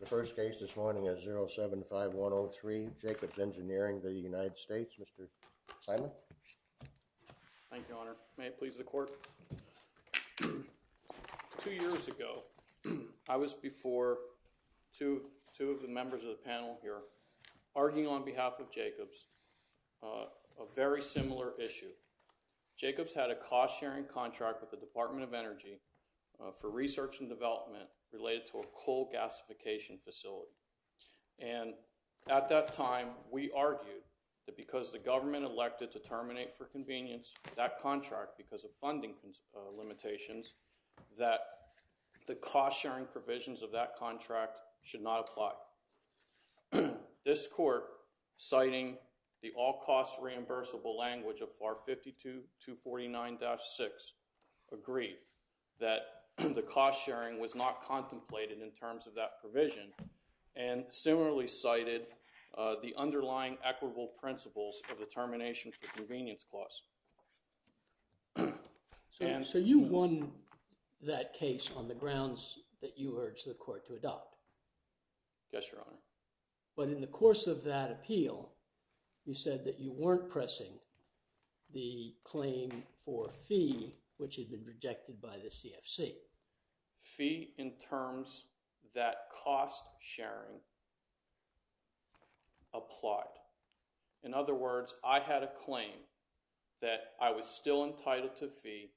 The first case this morning is 075-103, Jacobs Engineering v. United States. Mr. Simon. Thank you, Your Honor. May it please the Court? Two years ago, I was before two of the members of the panel here, arguing on behalf of Jacobs a very similar issue. Jacobs had a cost-sharing contract with the Department of Energy for research and development related to a coal gasification facility. And at that time, we argued that because the government elected to terminate for convenience that contract because of funding limitations, that the cost-sharing provisions of that contract should not apply. This Court, citing the all-cost reimbursable language of FAR 52-249-6, agreed that the cost-sharing was not contemplated in terms of that provision and similarly cited the underlying equitable principles of the termination for convenience clause. So you won that case on the grounds that you urged the Court to adopt? Yes, Your Honor. But in the course of that appeal, you said that you weren't pressing the claim for fee, which had been rejected by the CFC. Fee in terms that cost-sharing applied. In other words, I had a claim that I was still entitled to fee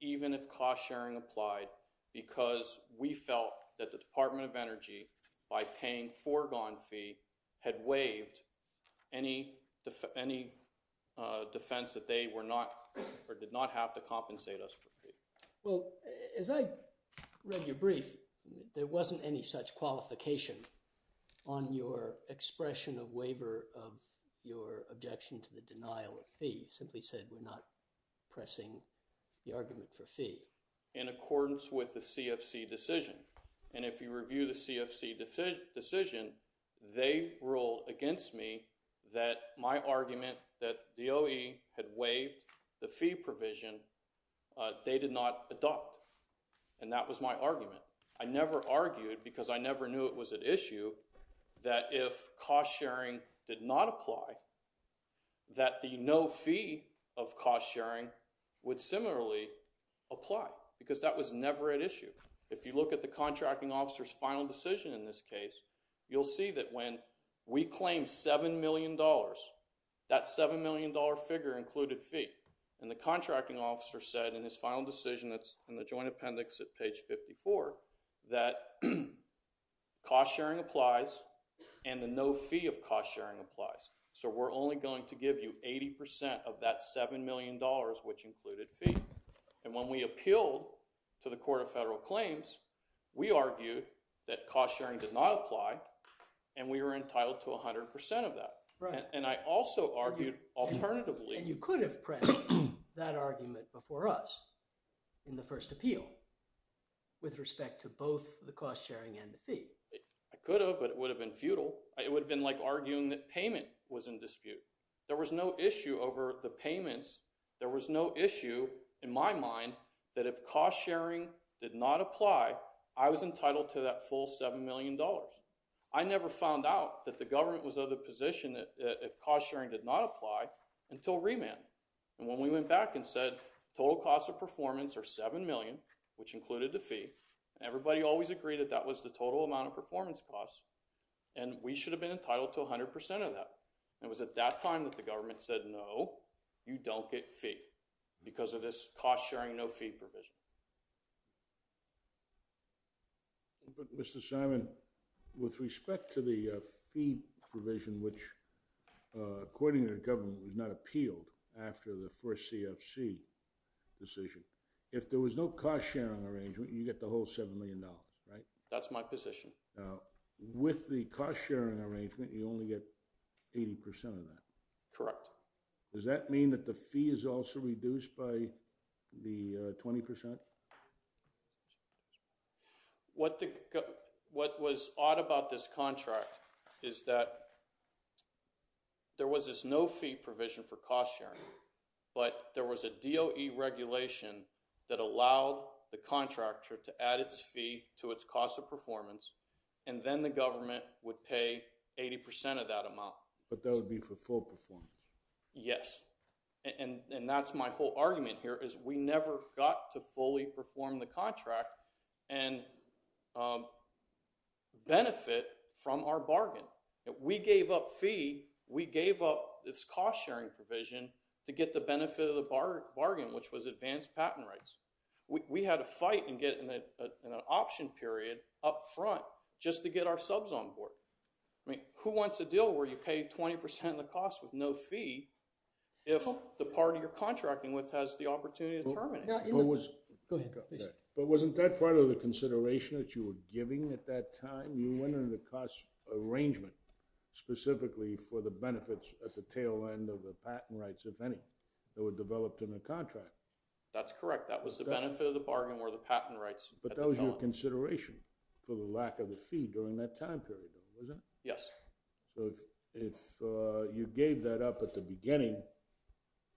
even if cost-sharing applied because we felt that the Department of Energy, by paying foregone fee, had waived any defense that they were not or did not have to compensate us for fee. Well, as I read your brief, there wasn't any such qualification on your expression of waiver of your objection to the denial of fee. You simply said we're not pressing the argument for fee. And if you review the CFC decision, they rule against me that my argument that the OE had waived the fee provision, they did not adopt. And that was my argument. I never argued, because I never knew it was at issue, that if cost-sharing did not apply, that the no fee of cost-sharing would similarly apply, because that was never at issue. If you look at the contracting officer's final decision in this case, you'll see that when we claimed $7 million, that $7 million figure included fee. And the contracting officer said in his final decision that's in the joint appendix at page 54 that cost-sharing applies and the no fee of cost-sharing applies. So we're only going to give you 80% of that $7 million, which included fee. And when we appealed to the Court of Federal Claims, we argued that cost-sharing did not apply, and we were entitled to 100% of that. And I also argued alternatively – And you could have pressed that argument before us in the first appeal with respect to both the cost-sharing and the fee. I could have, but it would have been futile. It would have been like arguing that payment was in dispute. There was no issue over the payments. There was no issue in my mind that if cost-sharing did not apply, I was entitled to that full $7 million. I never found out that the government was of the position that if cost-sharing did not apply until remand. And when we went back and said total cost of performance or $7 million, which included the fee, everybody always agreed that that was the total amount of performance costs. And we should have been entitled to 100% of that. It was at that time that the government said, no, you don't get fee because of this cost-sharing no fee provision. Mr. Simon, with respect to the fee provision, which according to the government was not appealed after the first CFC decision, if there was no cost-sharing arrangement, you get the whole $7 million, right? That's my position. With the cost-sharing arrangement, you only get 80% of that. Correct. Does that mean that the fee is also reduced by the 20%? What was odd about this contract is that there was this no fee provision for cost-sharing. But there was a DOE regulation that allowed the contractor to add its fee to its cost of performance. And then the government would pay 80% of that amount. But that would be for full performance. Yes. And that's my whole argument here is we never got to fully perform the contract and benefit from our bargain. We gave up fee. We gave up this cost-sharing provision to get the benefit of the bargain, which was advanced patent rights. We had to fight and get an option period up front just to get our subs on board. Who wants a deal where you pay 20% of the cost with no fee if the party you're contracting with has the opportunity to terminate it? Go ahead. But wasn't that part of the consideration that you were giving at that time? You went into the cost arrangement specifically for the benefits at the tail end of the patent rights, if any, that were developed in the contract. That's correct. That was the benefit of the bargain were the patent rights. But that was your consideration for the lack of the fee during that time period, though, wasn't it? Yes. So if you gave that up at the beginning,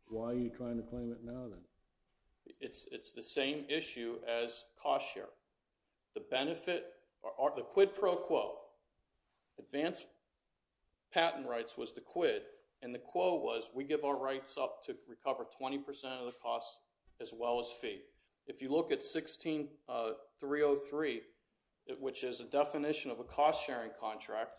why are you trying to claim it now then? It's the same issue as cost-sharing. The benefit or the quid pro quo, advanced patent rights was the quid, and the quo was we give our rights up to recover 20% of the cost as well as fee. If you look at 16303, which is a definition of a cost-sharing contract,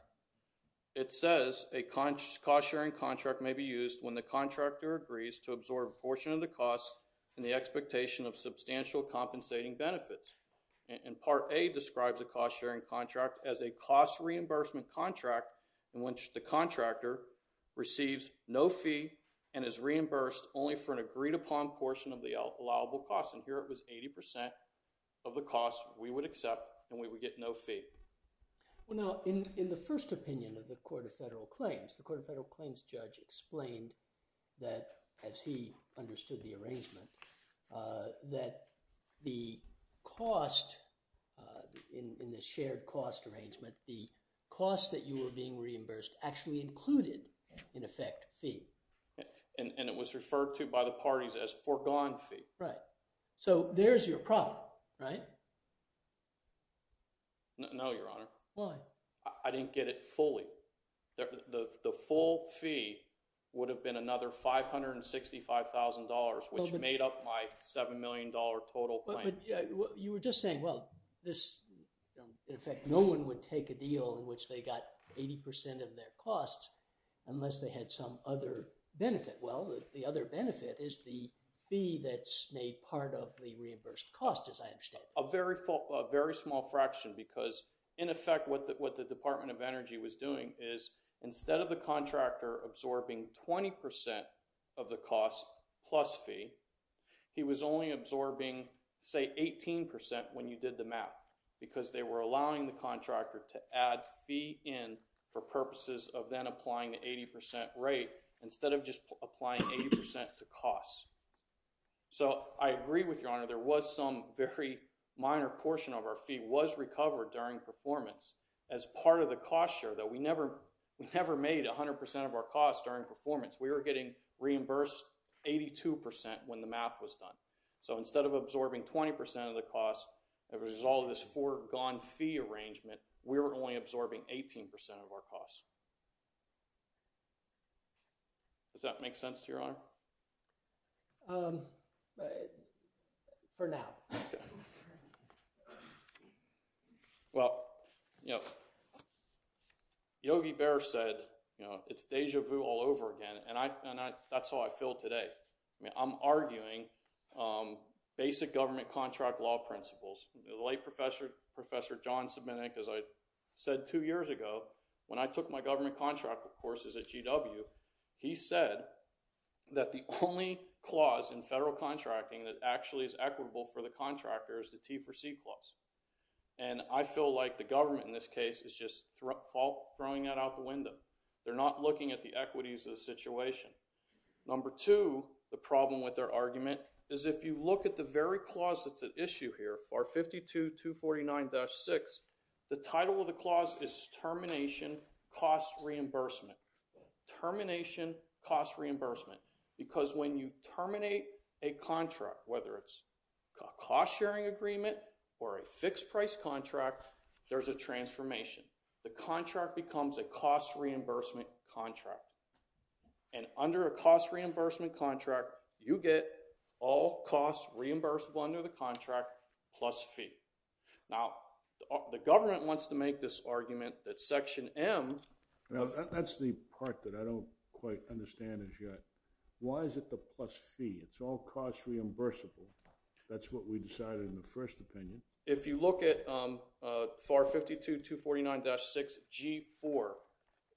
it says a cost-sharing contract may be used when the contractor agrees to absorb a portion of the cost in the expectation of substantial compensating benefits. And part A describes a cost-sharing contract as a cost reimbursement contract in which the contractor receives no fee and is reimbursed only for an agreed-upon portion of the allowable cost. And here it was 80% of the cost we would accept and we would get no fee. Well, now, in the first opinion of the Court of Federal Claims, the Court of Federal Claims judge explained that, as he understood the arrangement, that the cost in the shared cost arrangement, the cost that you were being reimbursed actually included, in effect, fee. And it was referred to by the parties as foregone fee. Right. So there's your profit, right? No, Your Honor. Why? I didn't get it fully. The full fee would have been another $565,000, which made up my $7 million total claim. You were just saying, well, in effect, no one would take a deal in which they got 80% of their cost unless they had some other benefit. Well, the other benefit is the fee that's made part of the reimbursed cost, as I understand. A very small fraction because, in effect, what the Department of Energy was doing is, instead of the contractor absorbing 20% of the cost plus fee, he was only absorbing, say, 18% when you did the math because they were allowing the contractor to add fee in for purposes of then applying the 80% rate instead of just applying 80% to cost. So I agree with Your Honor. There was some very minor portion of our fee was recovered during performance as part of the cost share that we never made 100% of our cost during performance. We were getting reimbursed 82% when the math was done. So instead of absorbing 20% of the cost as a result of this foregone fee arrangement, we were only absorbing 18% of our cost. Does that make sense to Your Honor? For now. Well, you know, Yogi Bear said, you know, it's deja vu all over again, and that's how I feel today. I mean, I'm arguing basic government contract law principles. The late Professor John Semenuk, as I said two years ago, when I took my government contract courses at GW, he said that the only clause in federal contracting that actually is equitable for the contractor is the T4C clause. And I feel like the government in this case is just throwing that out the window. They're not looking at the equities of the situation. Number two, the problem with their argument is if you look at the very clause that's at issue here, R52-249-6, the title of the clause is termination cost reimbursement. Termination cost reimbursement. Because when you terminate a contract, whether it's a cost sharing agreement or a fixed price contract, there's a transformation. The contract becomes a cost reimbursement contract. And under a cost reimbursement contract, you get all costs reimbursable under the contract plus fee. Now, the government wants to make this argument that Section M. Now, that's the part that I don't quite understand as yet. Why is it the plus fee? It's all cost reimbursable. That's what we decided in the first opinion. If you look at FAR 52-249-6G4,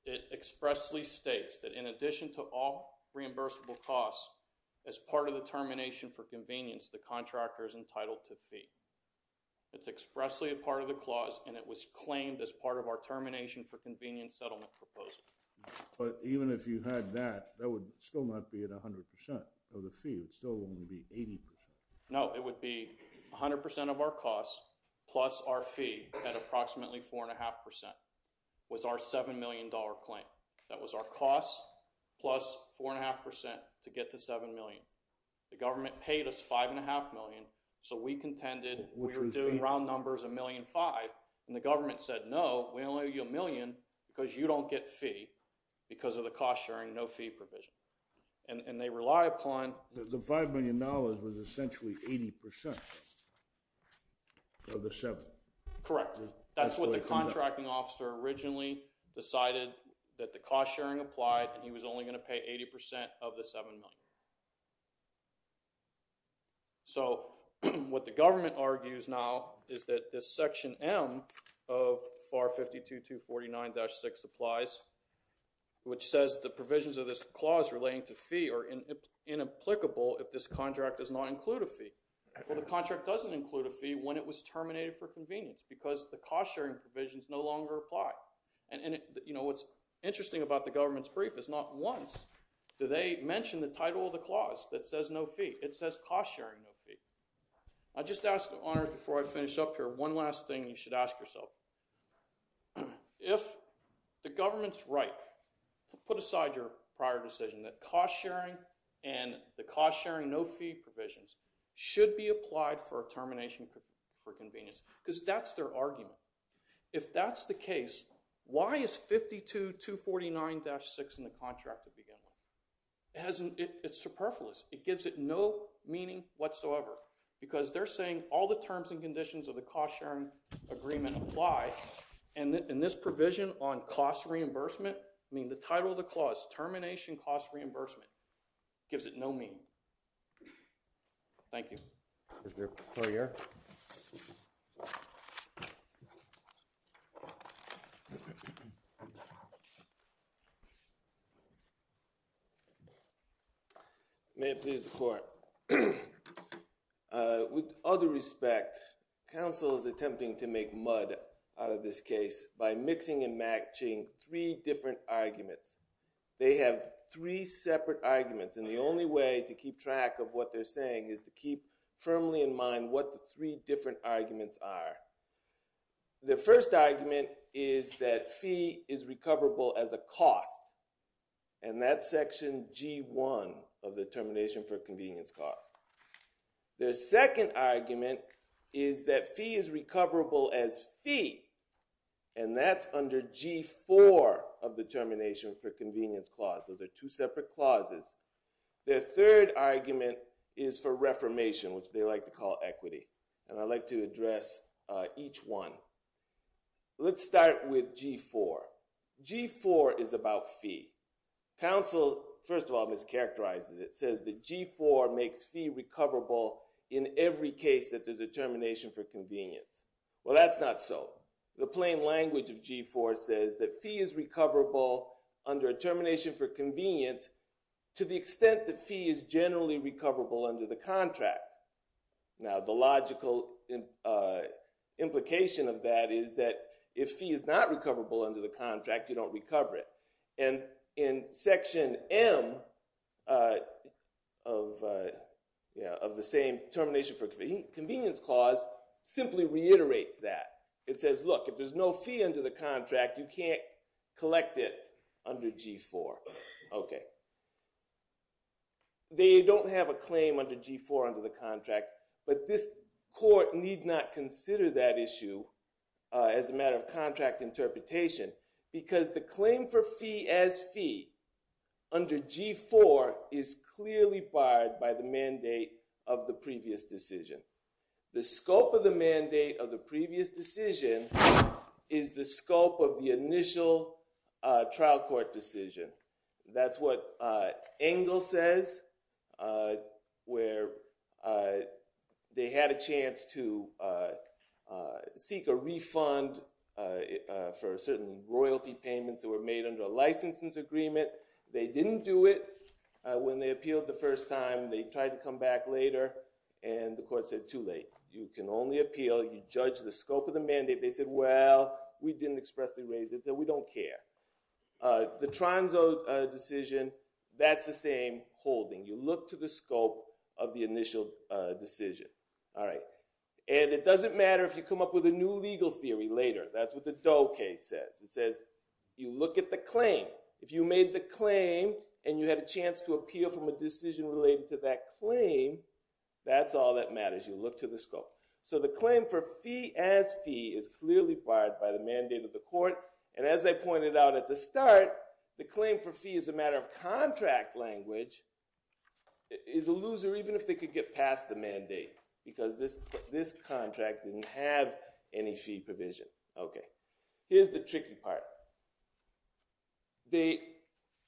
it expressly states that in addition to all reimbursable costs, as part of the termination for convenience, the contractor is entitled to fee. It's expressly a part of the clause, and it was claimed as part of our termination for convenience settlement proposal. But even if you had that, that would still not be at 100% of the fee. It would still only be 80%. No, it would be 100% of our costs plus our fee at approximately 4.5% was our $7 million claim. That was our costs plus 4.5% to get to $7 million. The government paid us $5.5 million, so we contended we were doing round numbers of $1.5 million, and the government said, no, we only owe you $1 million because you don't get fee because of the cost sharing, no fee provision. And they rely upon— The $5 million was essentially 80% of the $7 million. Correct. That's what the contracting officer originally decided that the cost sharing applied, and he was only going to pay 80% of the $7 million. So what the government argues now is that this section M of FAR 52249-6 applies, which says the provisions of this clause relating to fee are inapplicable if this contract does not include a fee. Well, the contract doesn't include a fee when it was terminated for convenience because the cost sharing provisions no longer apply. And what's interesting about the government's brief is not once. Do they mention the title of the clause that says no fee? It says cost sharing no fee. I'll just ask, before I finish up here, one last thing you should ask yourself. If the government's right, put aside your prior decision that cost sharing and the cost sharing no fee provisions should be applied for termination for convenience because that's their argument. If that's the case, why is 52249-6 in the contract to begin with? It's superfluous. It gives it no meaning whatsoever because they're saying all the terms and conditions of the cost sharing agreement apply. And this provision on cost reimbursement, I mean, the title of the clause, termination cost reimbursement, gives it no meaning. Thank you. Mr. Courier. May it please the court. With all due respect, counsel is attempting to make mud out of this case by mixing and matching three different arguments. They have three separate arguments, and the only way to keep track of what they're saying is to keep firmly in mind what the three different arguments are. The first argument is that fee is recoverable as a cost, and that's section G1 of the termination for convenience clause. The second argument is that fee is recoverable as fee, and that's under G4 of the termination for convenience clause. Those are two separate clauses. The third argument is for reformation, which they like to call equity, and I'd like to address each one. Let's start with G4. G4 is about fee. Counsel, first of all, mischaracterizes it. It says that G4 makes fee recoverable in every case that there's a termination for convenience. Well, that's not so. The plain language of G4 says that fee is recoverable under a termination for convenience to the extent that fee is generally recoverable under the contract. Now, the logical implication of that is that if fee is not recoverable under the contract, you don't recover it. And in section M of the same termination for convenience clause simply reiterates that. It says, look, if there's no fee under the contract, you can't collect it under G4. They don't have a claim under G4 under the contract, but this court need not consider that issue as a matter of contract interpretation because the claim for fee as fee under G4 is clearly barred by the mandate of the previous decision. The scope of the mandate of the previous decision is the scope of the initial trial court decision. That's what Engel says where they had a chance to seek a refund for certain royalty payments that were made under a license agreement. They didn't do it when they appealed the first time. They tried to come back later, and the court said, too late. You can only appeal. You judge the scope of the mandate. They said, well, we didn't expressly raise it, so we don't care. The Tronzo decision, that's the same holding. You look to the scope of the initial decision. And it doesn't matter if you come up with a new legal theory later. That's what the Doe case says. It says, you look at the claim. If you made the claim and you had a chance to appeal from a decision related to that claim, that's all that matters. You look to the scope. So the claim for fee as fee is clearly barred by the mandate of the court. And as I pointed out at the start, the claim for fee as a matter of contract language is a loser even if they could get past the mandate because this contract didn't have any fee provision. Okay. Here's the tricky part.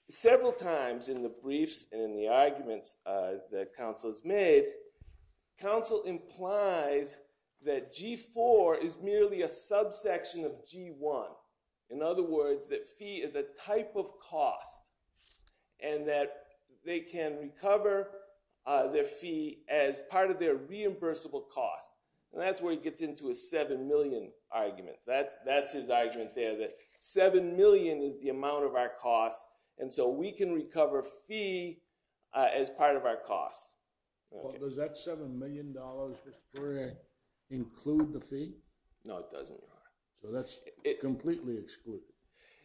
Several times in the briefs and in the arguments that counsel has made, counsel implies that G4 is merely a subsection of G1. In other words, that fee is a type of cost and that they can recover their fee as part of their reimbursable cost. And that's where he gets into a 7 million argument. That's his argument there, that 7 million is the amount of our cost, and so we can recover fee as part of our cost. Does that $7 million include the fee? No, it doesn't. So that's completely excluded.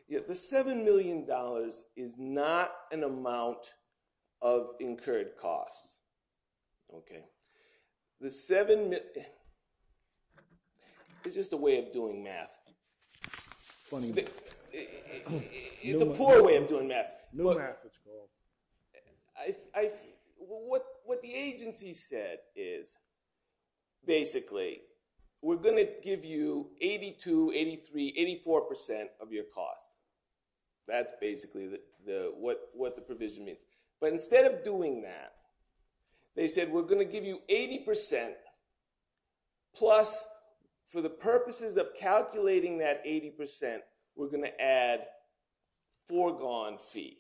The $7 million is not an amount of incurred cost. Okay. The 7 – it's just a way of doing math. It's a poor way of doing math. What the agency said is basically we're going to give you 82%, 83%, 84% of your cost. That's basically what the provision means. But instead of doing that, they said we're going to give you 80%, plus for the purposes of calculating that 80%, we're going to add foregone fee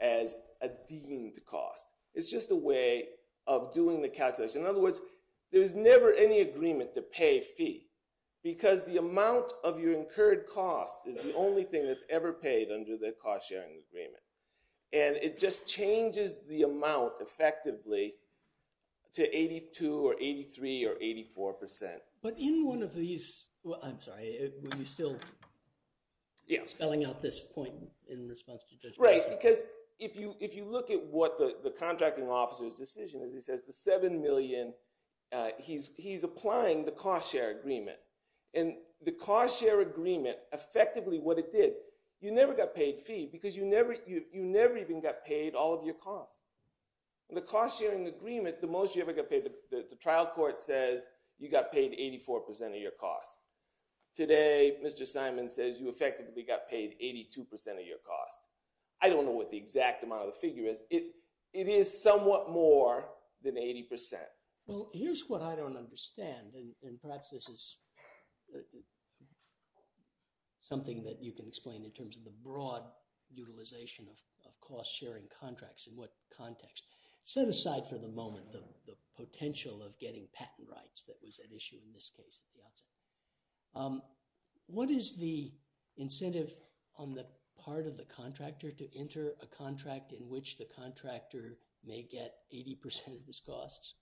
as a deemed cost. It's just a way of doing the calculation. In other words, there's never any agreement to pay fee because the amount of your incurred cost is the only thing that's ever paid under the cost-sharing agreement. And it just changes the amount effectively to 82% or 83% or 84%. But in one of these – I'm sorry. Were you still spelling out this point in response to Judge Marshall? Right, because if you look at what the contracting officer's decision is, he says the 7 million – he's applying the cost-share agreement. And the cost-share agreement, effectively what it did – you never got paid fee because you never even got paid all of your cost. The cost-sharing agreement, the most you ever got paid – the trial court says you got paid 84% of your cost. Today, Mr. Simon says you effectively got paid 82% of your cost. I don't know what the exact amount of the figure is. It is somewhat more than 80%. Well, here's what I don't understand. And perhaps this is something that you can explain in terms of the broad utilization of cost-sharing contracts in what context. Set aside for the moment the potential of getting patent rights that was at issue in this case at the outset. What is the incentive on the part of the contractor to enter a contract in which the contractor may get 80% of his costs?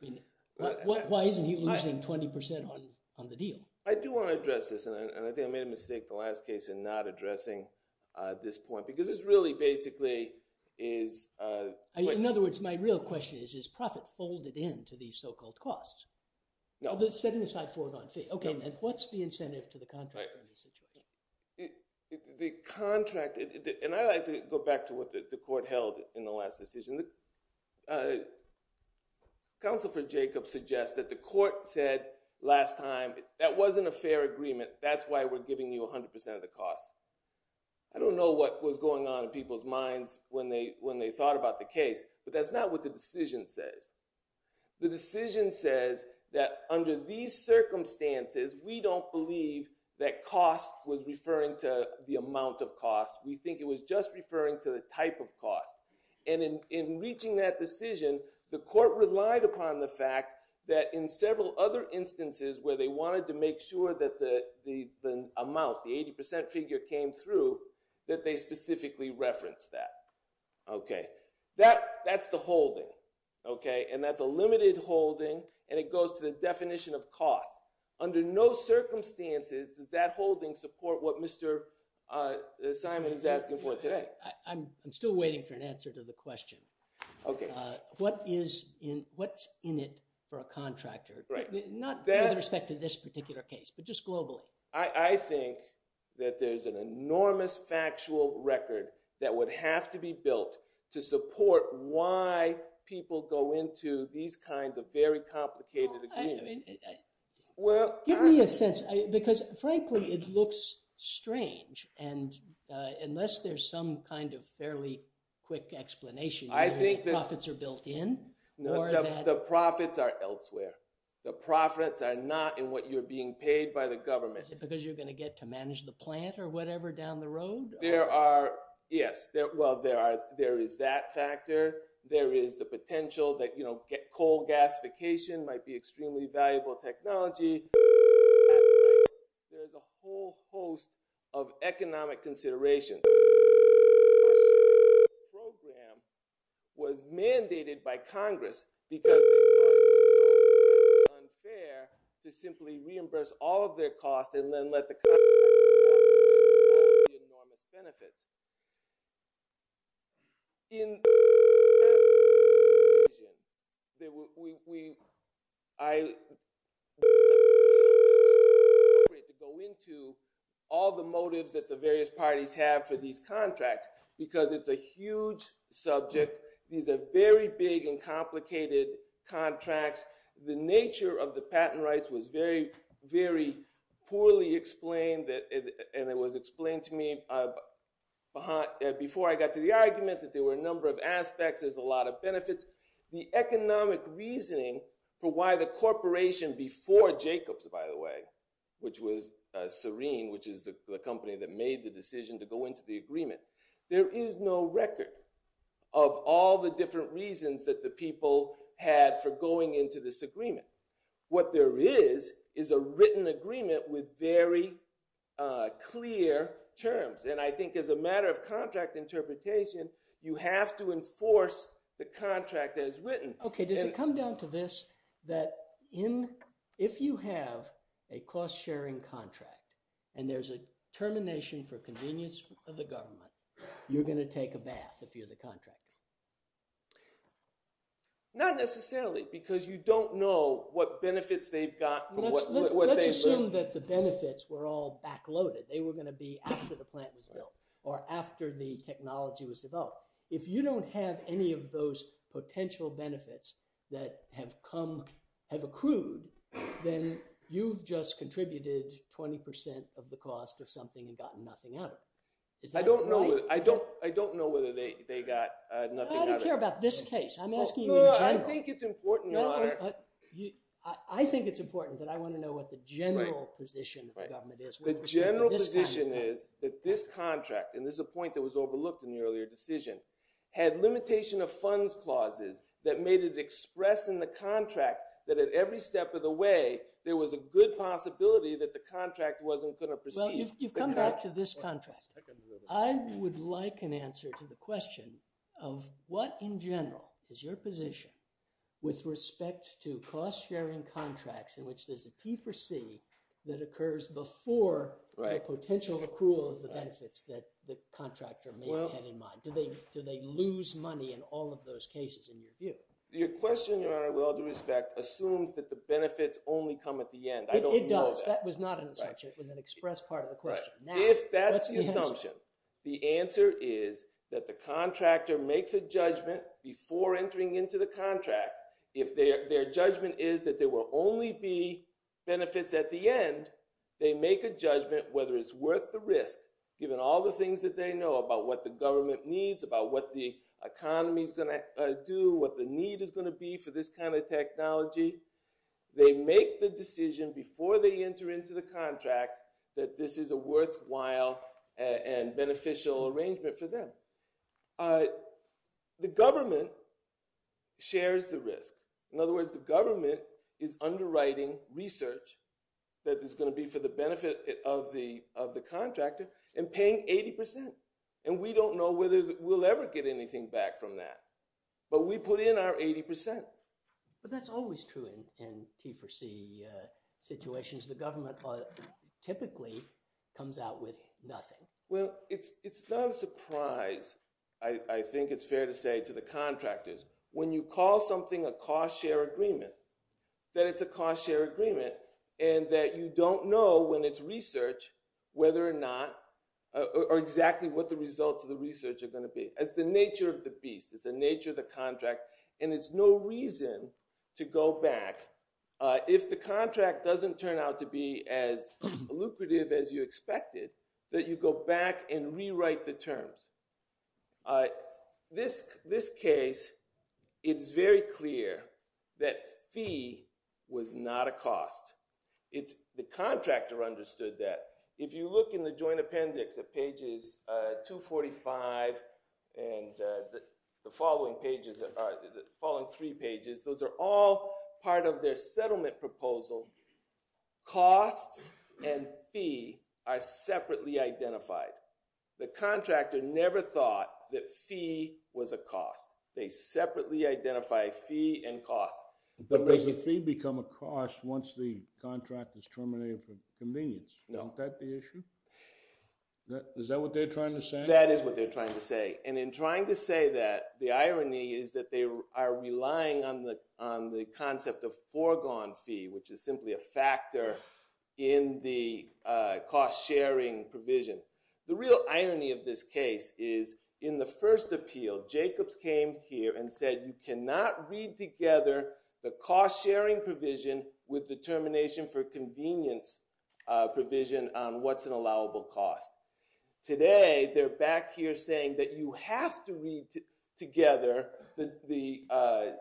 I mean, why isn't he losing 20% on the deal? I do want to address this, and I think I made a mistake in the last case in not addressing this point because this really basically is – In other words, my real question is, is profit folded in to these so-called costs? No. Setting aside for it on fee. Okay. And what's the incentive to the contractor in this situation? The contract – and I like to go back to what the court held in the last decision. Counsel for Jacob suggests that the court said last time, that wasn't a fair agreement. That's why we're giving you 100% of the cost. I don't know what was going on in people's minds when they thought about the case, but that's not what the decision says. The decision says that under these circumstances, we don't believe that cost was referring to the amount of cost. We think it was just referring to the type of cost. And in reaching that decision, the court relied upon the fact that in several other instances where they wanted to make sure that the amount, the 80% figure came through, that they specifically referenced that. Okay. That's the holding. Okay. And that's a limited holding, and it goes to the definition of cost. Under no circumstances does that holding support what Mr. Simon is asking for today. I'm still waiting for an answer to the question. Okay. What is in – what's in it for a contractor? Right. Not with respect to this particular case, but just globally. I think that there's an enormous factual record that would have to be built to support why people go into these kinds of very complicated agreements. Well, give me a sense, because frankly, it looks strange. And unless there's some kind of fairly quick explanation, the profits are built in? The profits are elsewhere. The profits are not in what you're being paid by the government. Is it because you're going to get to manage the plant or whatever down the road? There are – yes. Well, there is that factor. There is the potential that coal gasification might be extremely valuable technology. There's a whole host of economic considerations. The program was mandated by Congress because it was unfair to simply reimburse all of their costs and then let the Congress –– enormous benefits. In –– to go into all the motives that the various parties have for these contracts because it's a huge subject. These are very big and complicated contracts. The nature of the patent rights was very, very poorly explained, and it was explained to me before I got to the argument that there were a number of aspects. There's a lot of benefits. The economic reasoning for why the corporation before Jacobs, by the way, which was Serene, which is the company that made the decision to go into the agreement. There is no record of all the different reasons that the people had for going into this agreement. What there is is a written agreement with very clear terms, and I think as a matter of contract interpretation, you have to enforce the contract as written. Okay, does it come down to this that if you have a cost-sharing contract and there's a termination for convenience of the government, you're going to take a bath if you're the contractor? Not necessarily because you don't know what benefits they've got from what they've learned. Let's assume that the benefits were all backloaded. They were going to be after the plant was built or after the technology was developed. If you don't have any of those potential benefits that have accrued, then you've just contributed 20% of the cost of something and gotten nothing out of it. I don't know whether they got nothing out of it. I don't care about this case. I'm asking you in general. I think it's important, Your Honor. I think it's important that I want to know what the general position of the government is. The general position is that this contract, and this is a point that was overlooked in the earlier decision, had limitation of funds clauses that made it express in the contract that at every step of the way, there was a good possibility that the contract wasn't going to proceed. Well, you've come back to this contract. I would like an answer to the question of what in general is your position with respect to cost-sharing contracts in which there's a P4C that occurs before the potential accrual of the benefits that the contractor may have had in mind. Do they lose money in all of those cases in your view? Your question, Your Honor, with all due respect, assumes that the benefits only come at the end. I don't know that. It does. That was not an assertion. It was an express part of the question. If that's the assumption, the answer is that the contractor makes a judgment before entering into the contract. If their judgment is that there will only be benefits at the end, they make a judgment whether it's worth the risk given all the things that they know about what the government needs, about what the economy is going to do, what the need is going to be for this kind of technology. They make the decision before they enter into the contract that this is a worthwhile and beneficial arrangement for them. The government shares the risk. In other words, the government is underwriting research that is going to be for the benefit of the contractor and paying 80%. And we don't know whether we'll ever get anything back from that. But we put in our 80%. But that's always true in T4C situations. The government typically comes out with nothing. Well, it's not a surprise, I think it's fair to say, to the contractors. When you call something a cost-share agreement, that it's a cost-share agreement and that you don't know when it's research whether or not – or exactly what the results of the research are going to be. It's the nature of the beast. It's the nature of the contract. And there's no reason to go back. If the contract doesn't turn out to be as lucrative as you expected, that you go back and rewrite the terms. This case, it's very clear that fee was not a cost. The contractor understood that. If you look in the joint appendix at pages 245 and the following three pages, those are all part of their settlement proposal. Costs and fee are separately identified. The contractor never thought that fee was a cost. They separately identify fee and cost. But does the fee become a cost once the contract is terminated for convenience? No. Isn't that the issue? Is that what they're trying to say? That is what they're trying to say. And in trying to say that, the irony is that they are relying on the concept of foregone fee, which is simply a factor in the cost-sharing provision. The real irony of this case is in the first appeal, Jacobs came here and said you cannot read together the cost-sharing provision with the termination for convenience provision on what's an allowable cost. Today, they're back here saying that you have to read together the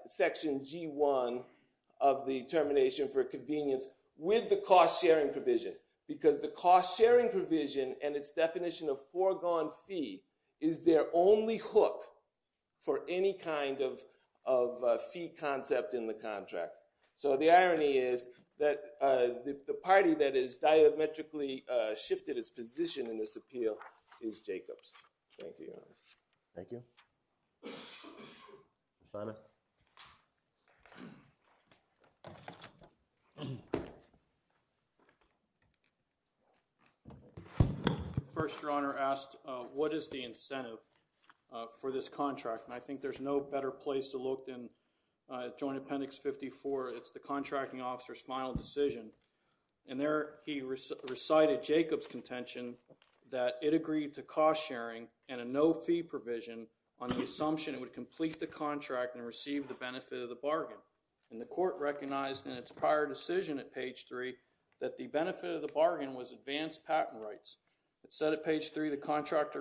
section G1 of the termination for convenience with the cost-sharing provision. Because the cost-sharing provision and its definition of foregone fee is their only hook for any kind of fee concept in the contract. So the irony is that the party that has diametrically shifted its position in this appeal is Jacobs. Thank you. Thank you. Senator? First, Your Honor asked what is the incentive for this contract? And I think there's no better place to look than Joint Appendix 54. It's the contracting officer's final decision. And there he recited Jacobs' contention that it agreed to cost-sharing and a no-fee provision on the assumption it would complete the contract and receive the benefit of the bargain. And the court recognized in its prior decision at page 3 that the benefit of the bargain was advanced patent rights. It said at page 3, the contract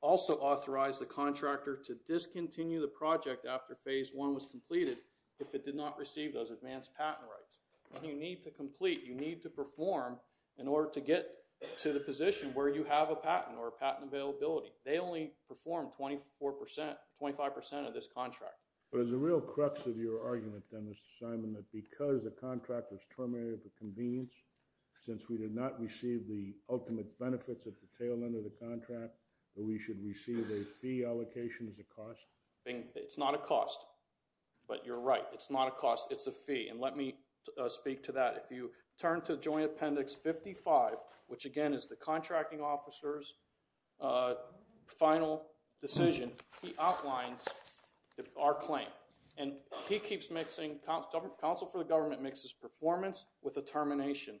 also authorized the contractor to discontinue the project after phase 1 was completed if it did not receive those advanced patent rights. And you need to complete, you need to perform in order to get to the position where you have a patent or a patent availability. They only performed 25% of this contract. But is the real crux of your argument then, Mr. Simon, that because the contract was terminated for convenience, since we did not receive the ultimate benefits at the tail end of the contract, that we should receive a fee allocation as a cost? It's not a cost. But you're right. It's not a cost. It's a fee. And let me speak to that. If you turn to Joint Appendix 55, which again is the contracting officer's final decision, he outlines our claim. And he keeps mixing, counsel for the government mixes performance with a termination.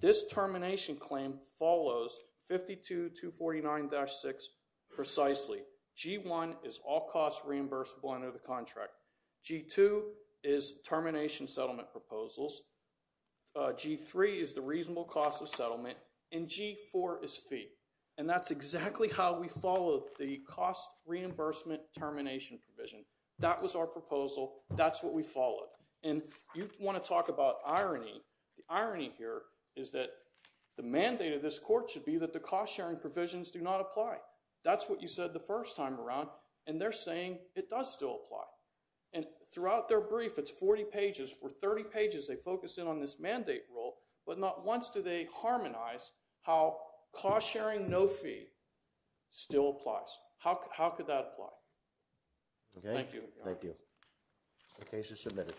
This termination claim follows 52-249-6 precisely. G1 is all costs reimbursable under the contract. G2 is termination settlement proposals. G3 is the reasonable cost of settlement. And G4 is fee. And that's exactly how we follow the cost reimbursement termination provision. That was our proposal. That's what we followed. And you want to talk about irony. The irony here is that the mandate of this court should be that the cost sharing provisions do not apply. That's what you said the first time around. And they're saying it does still apply. And throughout their brief, it's 40 pages. For 30 pages, they focus in on this mandate rule. But not once do they harmonize how cost sharing no fee still applies. How could that apply? Thank you. Thank you. The case is submitted.